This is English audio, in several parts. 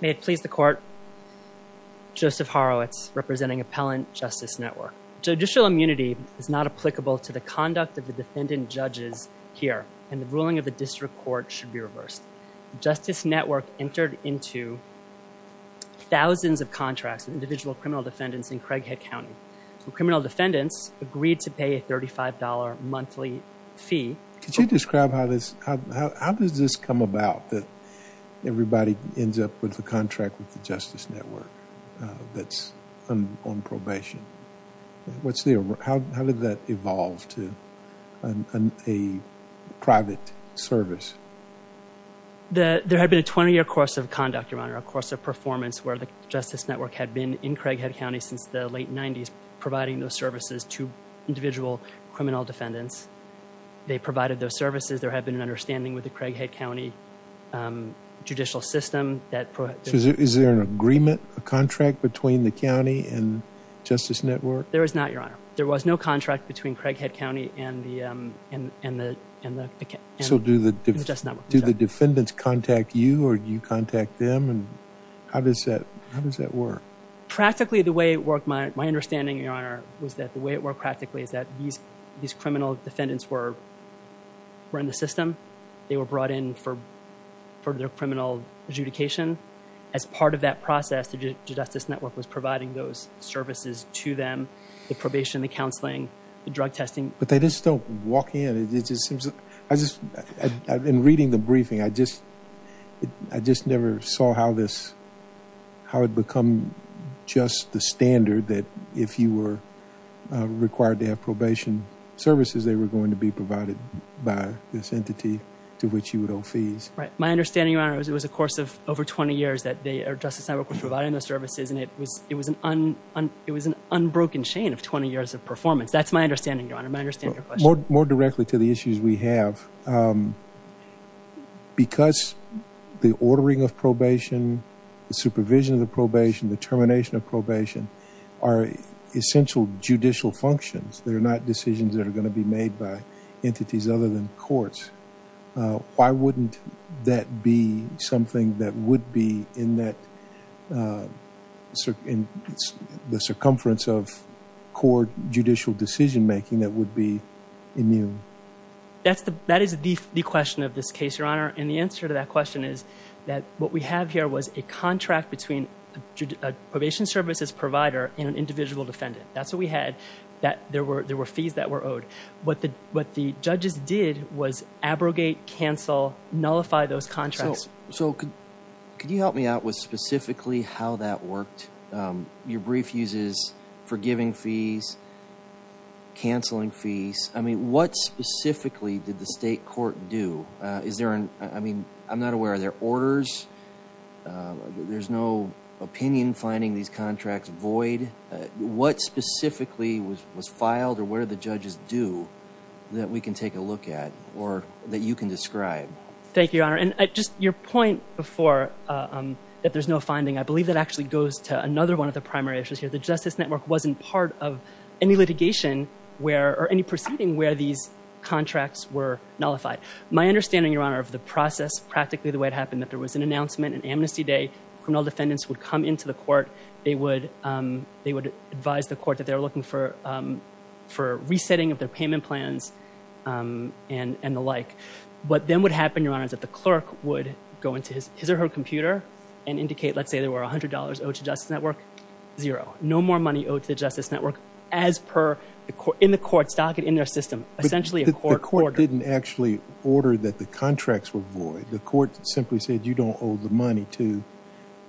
May it please the court, Joseph Horowitz representing Appellant Justice Network. Judicial immunity is not applicable to the conduct of the defendant judges here and the ruling of the district court should be reversed. Justice Network entered into thousands of contracts with individual criminal defendants in Craighead County. Criminal defendants agreed to pay a $35 monthly fee. Could you describe how this, how does this come about that everybody ends up with a contract with the Justice Network that's on probation? What's the, how did that evolve to a private service? There had been a 20-year course of conduct, Your Honor, a course of performance where the Justice Network had been in Craighead County since the late 90s providing those services to individual criminal defendants. They provided those services. There had been an understanding with the Craighead County judicial system that... Is there an agreement, a contract between the county and Justice Network? There is not, Your Honor. There was no contract between Craighead County and the, and the, and the... So do the defendants contact you or do you contact them and how does that, how does that work? Practically the way it worked, my understanding, Your Honor, was that the these criminal defendants were, were in the system. They were brought in for, for their criminal adjudication. As part of that process, the Justice Network was providing those services to them. The probation, the counseling, the drug testing. But they just don't walk in. It just seems, I just, in reading the briefing, I just, I just never saw how this, how it become just the standard that if you were required to have probation services, they were going to be provided by this entity to which you would owe fees. Right. My understanding, Your Honor, was it was a course of over 20 years that they, or Justice Network, was providing those services and it was, it was an un, it was an unbroken chain of 20 years of performance. That's my understanding, Your Honor. My understanding... More, more directly to the issues we have. Because the ordering of probation, the are essential judicial functions. They're not decisions that are going to be made by entities other than courts. Uh, why wouldn't that be something that would be in that, uh, in the circumference of court judicial decision making that would be immune? That's the, that is the question of this case, Your Honor. And the answer to that question is that what we have here was a contract between a probation services provider and an individual defendant. That's what we had. That there were, there were fees that were owed. What the, what the judges did was abrogate, cancel, nullify those contracts. So, so could, could you help me out with specifically how that worked? Um, your brief uses forgiving fees, canceling fees. I mean, what specifically did the state court do? Uh, is there an, I opinion finding these contracts void? Uh, what specifically was, was filed or what did the judges do that we can take a look at or that you can describe? Thank you, Your Honor. And I just, your point before, um, that there's no finding, I believe that actually goes to another one of the primary issues here. The Justice Network wasn't part of any litigation where, or any proceeding where these contracts were nullified. My understanding, Your Honor, of the process, practically the way it happened, that there was an announcement, an amnesty day. Criminal defendants would come into the court. They would, um, they would advise the court that they were looking for, um, for resetting of their payment plans, um, and, and the like. What then would happen, Your Honor, is that the clerk would go into his, his or her computer and indicate, let's say there were $100 owed to Justice Network, zero. No more money owed to the Justice Network as per the court, in the court's docket, in their system. Essentially a court order. The court didn't actually order that the contracts were void. The court simply said, you don't owe the money to,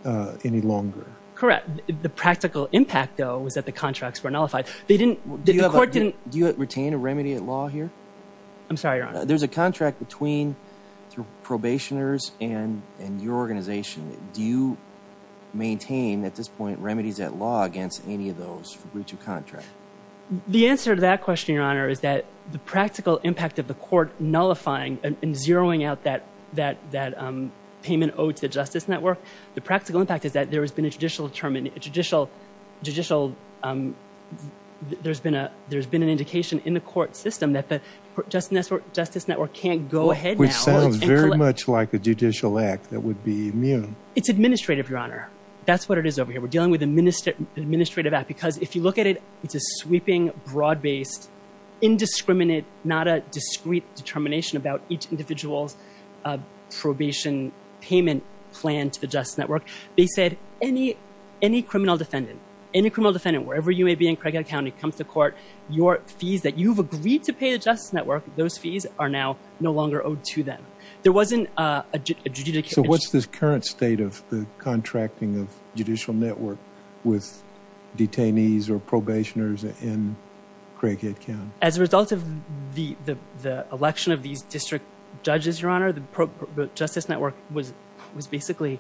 uh, any longer. Correct. The practical impact, though, was that the contracts were nullified. They didn't, the court didn't. Do you retain a remedy at law here? I'm sorry, Your Honor. There's a contract between, through probationers and, and your organization. Do you maintain, at this point, remedies at law against any of those for breach of contract? The answer to that question, Your Honor, is that the practical impact of the court nullifying and zeroing out that, that, that, um, payment owed to the Justice Network, the practical impact is that there has been a judicial determine, a judicial, judicial, um, there's been a, there's been an indication in the court system that the Justice Network, Justice Network can't go ahead now. Which sounds very much like a judicial act that would be immune. It's administrative, Your Honor. That's what it is over here. We're dealing with administrative, administrative act. Because if you look at it, it's a sweeping, broad-based, indiscriminate, not a discreet determination about each individual's, uh, probation payment plan to the Justice Network. They said any, any criminal defendant, any criminal defendant, wherever you may be in Craighead County, comes to court, your fees that you've agreed to pay the Justice Network, those fees are now no longer owed to them. There wasn't, uh, a judicial. So what's this current state of the contracting of judicial network with detainees or probationers in Craighead County? As a result of the, the, the election of these district judges, Your Honor, the Justice Network was, was basically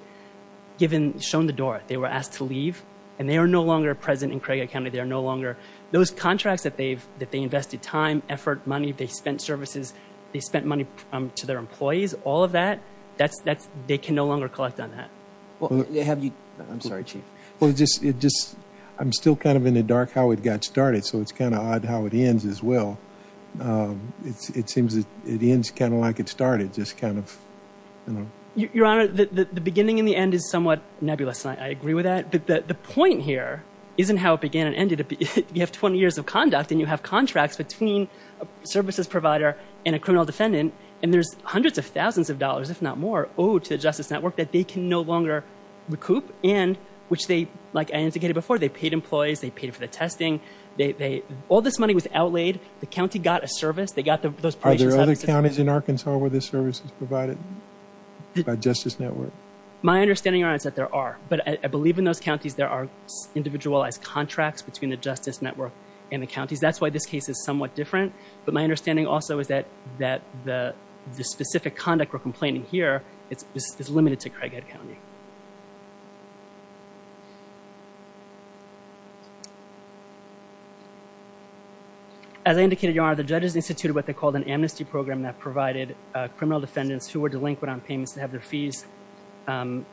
given, shown the door. They were asked to leave and they are no longer present in Craighead County. They are no longer, those contracts that they've, that they invested time, effort, money, they spent services, they spent money to their employees, all of that. That's, that's, they can no longer collect on that. Well, have you, I'm sorry, Chief. Well, it just, it just, I'm still kind of in the dark how it got started. So it's kind of odd how it ends as well. Um, it's, it seems that it ends kind of like it started, just kind of, you know. Your Honor, the, the, the beginning and the end is somewhat nebulous. I agree with that. But the, the point here isn't how it began and ended. You have 20 years of conduct and you have contracts between a services provider and a criminal defendant, and there's hundreds of thousands of that they can no longer recoup and which they, like I indicated before, they paid employees, they paid for the testing. They, they, all this money was outlaid. The county got a service. They got the, those. Are there other counties in Arkansas where this service is provided by Justice Network? My understanding, Your Honor, is that there are, but I believe in those counties, there are individualized contracts between the Justice Network and the counties. That's why this case is somewhat different. But my understanding also is that, that the, the specific conduct we're complaining here, it's, it's, it's limited to Craighead County. As I indicated, Your Honor, the judges instituted what they called an amnesty program that provided criminal defendants who were delinquent on payments to have their fees, to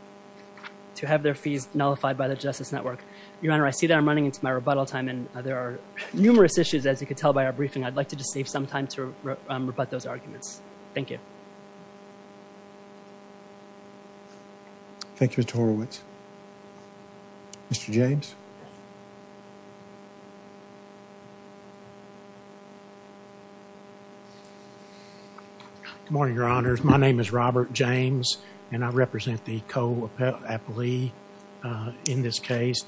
have their fees nullified by the Justice Network. Your Honor, I see that I'm running into my rebuttal time and there are numerous issues, as you could tell by our briefing. I'd like to just save some time to rebut those arguments. Thank you. Thank you, Mr. Horowitz. Mr. James. Good morning, Your Honors. My name is Robert James and I represent the co- appellee in this case,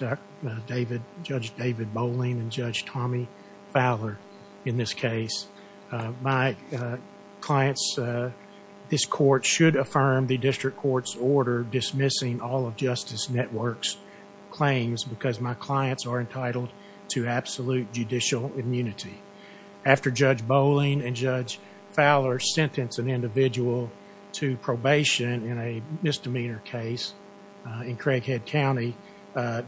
David, Judge David Boling and Judge Tommy Fowler in this case. My clients, this court should affirm the district court's order dismissing all of Justice Network's claims because my clients are entitled to absolute judicial immunity. After Judge Boling and Judge Fowler sentenced an individual to probation in a misdemeanor case in Craighead County,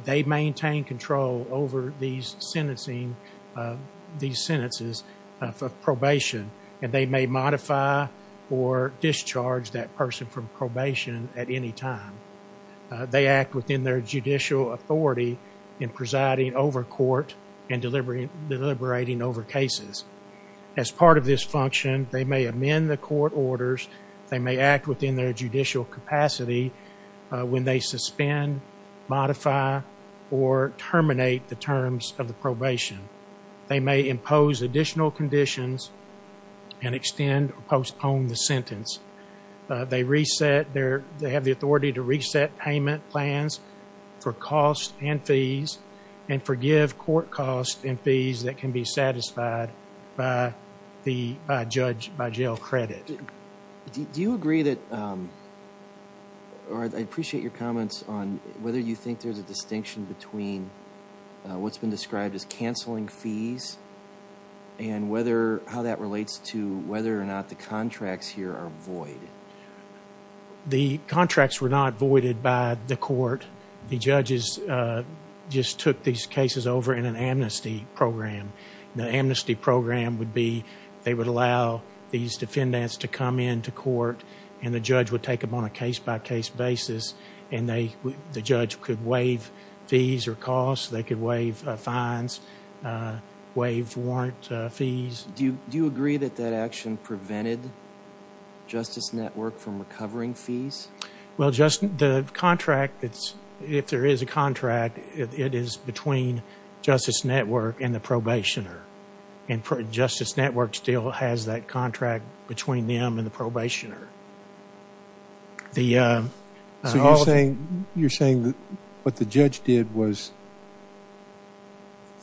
they maintain control over these sentences of probation and they may modify or discharge that person from probation at any time. They act within their judicial authority in presiding over court and deliberating over cases. As part of this function, they may amend the court orders. They may act within their judicial capacity when they suspend, modify, or terminate the terms of the probation. They may impose additional conditions and extend or postpone the sentence. They have the authority to reset payment plans for costs and fees and forgive court costs and fees that can be incurred. I appreciate your comments on whether you think there's a distinction between what's been described as canceling fees and how that relates to whether or not the contracts here are void. The contracts were not voided by the court. The judges just took these cases over in an amnesty program. The amnesty program would be they would allow these defendants to come into court and the judge would take them on a case-by- case basis and the judge could waive fees or costs. They could waive fines, waive warrant fees. Do you agree that that action prevented Justice Network from recovering fees? The contract, if there is a contract, it is between Justice Network and the contract between them and the probationer. You're saying what the judge did was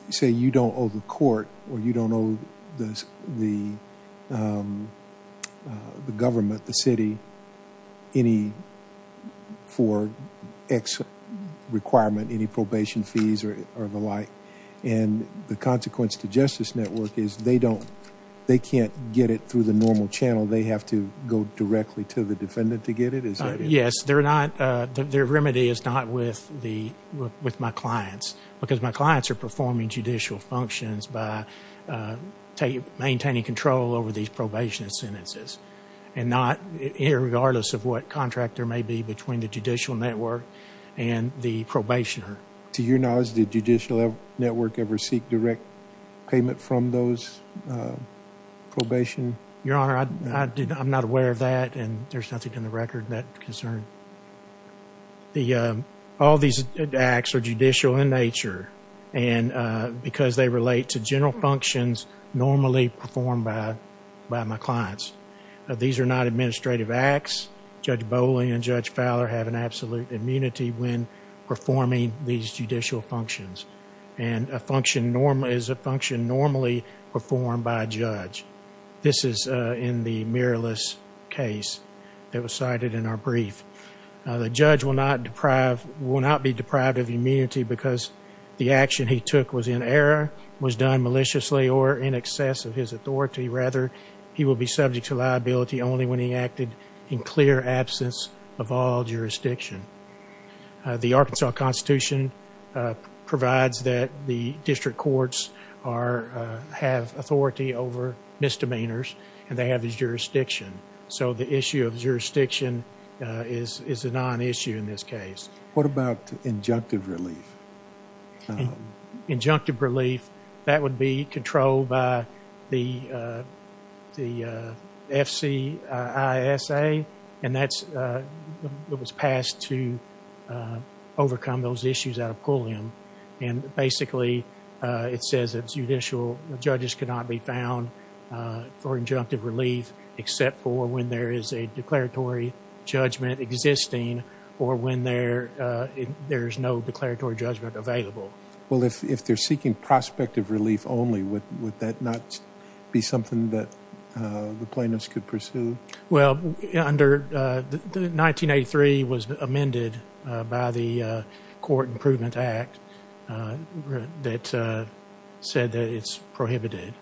say you don't owe the court or you don't owe the government, the city, any for X requirement, any probation fees or the like. The consequence to Justice Network is they can't get it through the normal channel. They have to go directly to the defendant to get it? Yes. Their remedy is not with my clients because my clients are performing judicial functions by maintaining control over these probation sentences and not, irregardless of what contract there may be, between the judicial network and the probationer. To your knowledge, did Judicial Network ever seek direct payment from those probation? Your Honor, I'm not aware of that and there's nothing in the record that concerns. All these acts are judicial in nature because they relate to general functions normally performed by my clients. These are not administrative acts. Judge Boley and Judge Fowler have an absolute immunity when performing these judicial functions. A function is a function normally performed by a judge. This is in the mirrorless case that was cited in our brief. The judge will not be deprived of immunity because the action he took was in error, was done maliciously or in excess of his authority. Rather, he will be subject to liability only when he acted in clear absence of all jurisdiction. The Arkansas Constitution provides that the district courts have authority over misdemeanors and they have the jurisdiction. So the issue of jurisdiction is a non-issue in this case. What about injunctive relief? Injunctive relief, that would be controlled by the the FCISA and that was passed to overcome those issues out of judicial. Judges cannot be found for injunctive relief except for when there is a declaratory judgment existing or when there there's no declaratory judgment available. Well, if they're seeking prospective relief only, would would that not be something that the plaintiffs could pursue? Well, under the 1983 was amended by the Court Improvement Act that said that it's prohibited.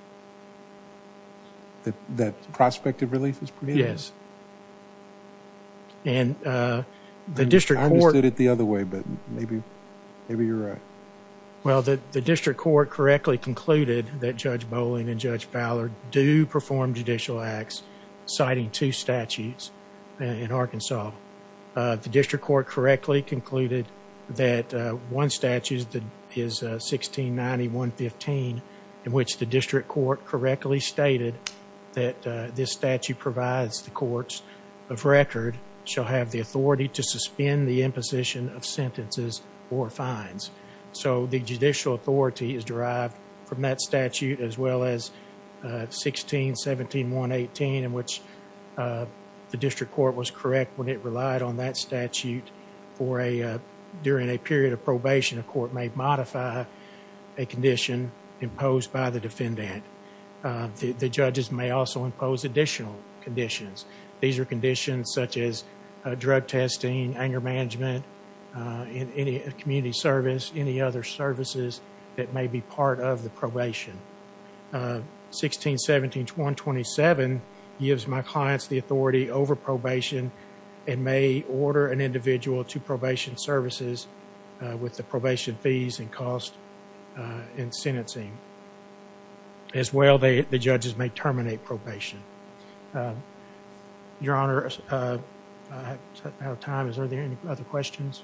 That prospective relief is prohibited? Yes. And the district court... I understood it the other way, but maybe you're right. Well, the district court correctly concluded that Judge Bowling and Judge Ballard do perform judicial acts citing two statutes in Arkansas. The district court correctly concluded that one statute is 1690.115 in which the district court correctly stated that this statute provides the courts of record shall have the authority to suspend the imposition of sentences or fines. So the judicial authority is the district court was correct when it relied on that statute for a during a period of probation. A court may modify a condition imposed by the defendant. The judges may also impose additional conditions. These are conditions such as drug testing, anger management, in any community service, any other services that may be part of the probation. 1617.127 gives my clients the authority over probation and may order an individual to probation services with the probation fees and cost in sentencing. As well, the judges may terminate probation. Your Honor, I'm out of time. Are there any other questions?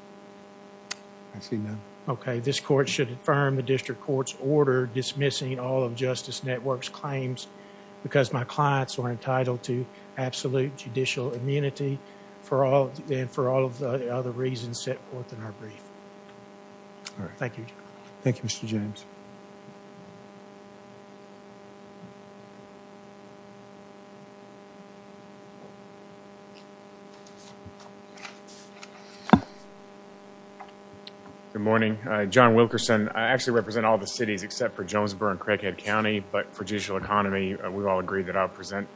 I see none. Okay, this court should affirm the district court's order dismissing all of Justice Network's claims because my clients are entitled to absolute judicial immunity for all and for all of the other reasons set forth in our brief. Thank you. Thank you, Mr. James. Good morning. John Wilkerson. I actually represent all the cities except for Jonesboro and Craighead County, but for judicial economy, we all agree that I present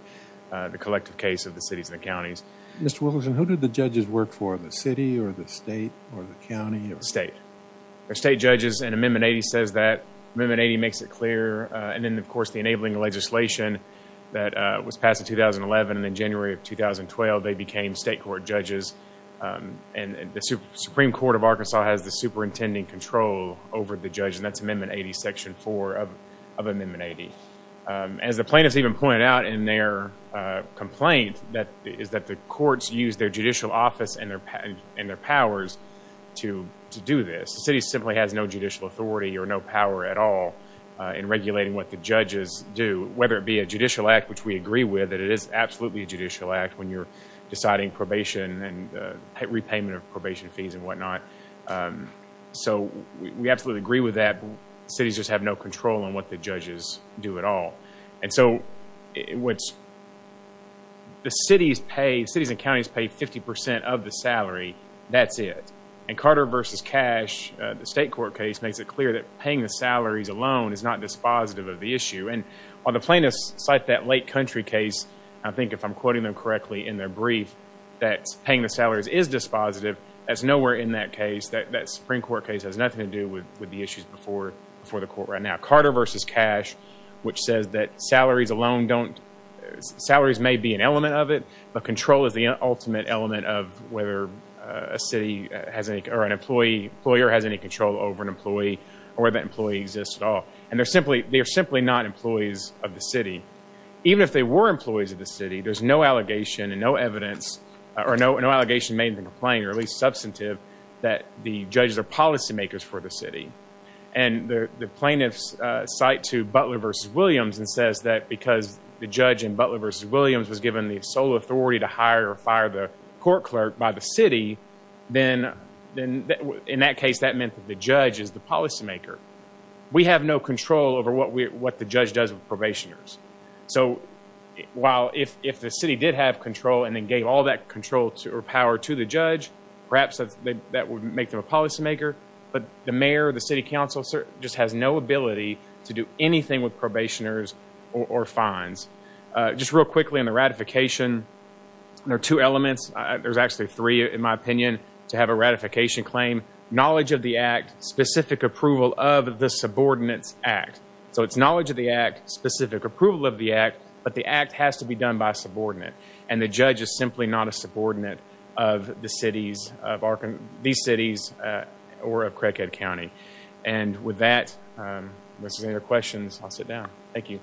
the collective case of the cities and counties. Mr. Wilkerson, who did the judges work for? The city or the state or the county? The state. The state judges and Amendment 80 says that. Amendment 80 makes it clear. And then, of course, the enabling legislation that was passed in 2011 and in January of 2012, they became state court judges. And the Supreme Court of Arkansas has the superintendent in control over the judge, and that's Amendment 80, Section 4 of Amendment 80. As the plaintiffs even pointed out in their complaint, that is that the courts use their judicial office and their powers to do this. The city simply has no judicial authority or no power at all in regulating what the judges do, whether it be a judicial act, which we agree with, that it is absolutely a judicial act when you're deciding probation and repayment of probation fees and whatnot. So we absolutely agree with that. Cities just have no control on what the judges do at all. And so what the cities pay, cities and counties pay 50% of the salary, that's it. And Carter versus Cash, the state court case, makes it clear that paying the salaries alone is not dispositive of the issue. And while the plaintiffs cite that Lake Country case, I think if I'm quoting them correctly in their brief, that paying the salaries is dispositive, that's nowhere in that case. That Supreme Court case has nothing to do with the issues before the court right now. Carter versus Cash, which says that salaries alone don't, salaries may be an element of it, but control is the ultimate element of whether a city has any, or an employee, employer has any control over an employee or whether that employee exists at all. And they're simply, they're simply not employees of the city. Even if they were employees of the city, there's no allegation and no evidence or no, no allegation made in the complaint, or at least substantive, that the judges are policymakers for the city. And the plaintiffs cite to Butler versus Williams and says that because the judge in Butler versus Williams was given the sole authority to hire or fire the court clerk by the city, then, then in that case, that meant that the judge is the policymaker. We have no control over what we, what the judge does with probationers. So while if, if the city did have control and then gave all that control or power to the judge, perhaps that would make them a policymaker, but the mayor, the city council just has no ability to do anything with probationers or fines. Just real quickly on the ratification, there are two elements. There's actually three in my opinion to have a ratification claim. Knowledge of the act, specific approval of the subordinates act. So it's knowledge of the act, specific approval of the act, but the act has to be done by a subordinate. And the judge is simply not a subordinate of the cities of Arkansas, these cities, or of Craighead County. And with that, unless there's any other questions, I'll sit down. Thank you.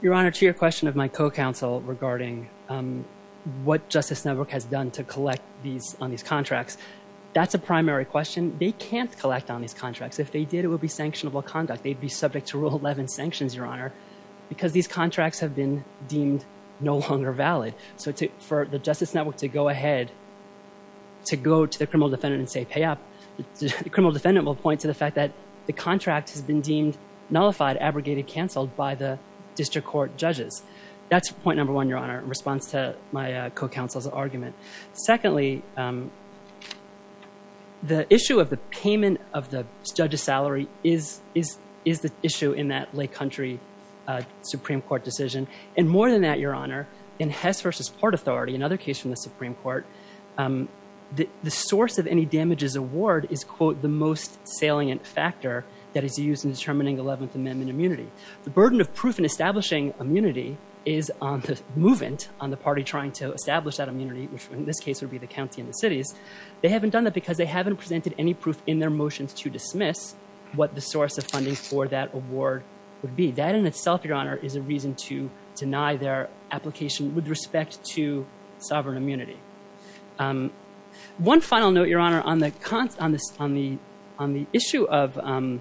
Your Honor, to your question of my co-counsel regarding what Justice Network has done to collect these, on these contracts, that's a primary question. They can't collect on these contracts. If they did, it would be subject to Rule 11 sanctions, Your Honor, because these contracts have been deemed no longer valid. So for the Justice Network to go ahead, to go to the criminal defendant and say pay up, the criminal defendant will point to the fact that the contract has been deemed nullified, abrogated, canceled by the district court judges. That's point number one, Your Honor, in response to my co-counsel's argument. Secondly, the issue of the payment of the judge's salary is the issue in that Lake Country Supreme Court decision. And more than that, Your Honor, in Hess v. Port Authority, another case from the Supreme Court, the source of any damages award is, quote, the most salient factor that is used in determining 11th Amendment immunity. The burden of proof in establishing immunity is on the movement, on the party trying to establish that immunity, which in this case would be the county and the cities. They haven't done that because they haven't presented any proof in their motions to dismiss what the source of that award would be. That in itself, Your Honor, is a reason to deny their application with respect to sovereign immunity. One final note, Your Honor, on the issue of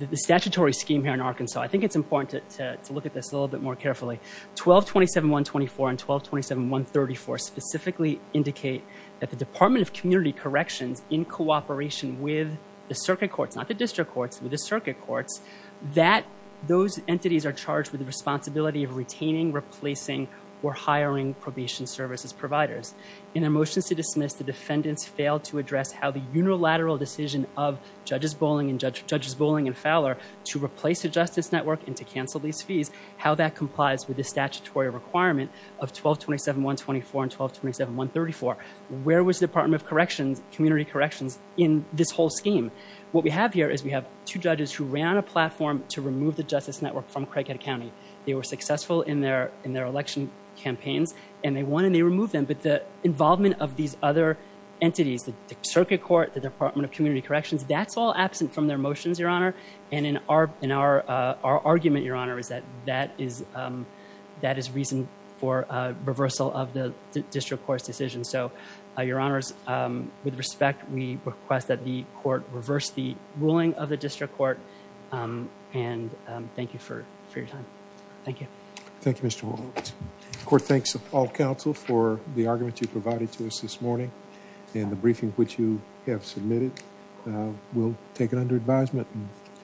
the statutory scheme here in Arkansas, I think it's important to look at this a little bit more carefully. 1227.124 and 1227.134 specifically indicate that the Department of Community Corrections, in the circuit courts, that those entities are charged with the responsibility of retaining, replacing, or hiring probation services providers. In their motions to dismiss, the defendants failed to address how the unilateral decision of Judges Bowling and Fowler to replace the Justice Network and to cancel these fees, how that complies with the statutory requirement of 1227.124 and 1227.134. Where was the Department of Community Corrections in this whole scheme? What we have here is we have two judges who ran a platform to remove the Justice Network from Crickett County. They were successful in their election campaigns and they won and they removed them, but the involvement of these other entities, the circuit court, the Department of Community Corrections, that's all absent from their motions, Your Honor, and in our argument, Your Honor, is that that is reason for reversal of the district court's decision. So, Your Honors, with respect, we request that the court reverse the ruling of the district court and thank you for your time. Thank you. Thank you, Mr. Walts. The court thanks all counsel for the argument you provided to us this morning and the briefing which you have submitted. We'll take it under advisement.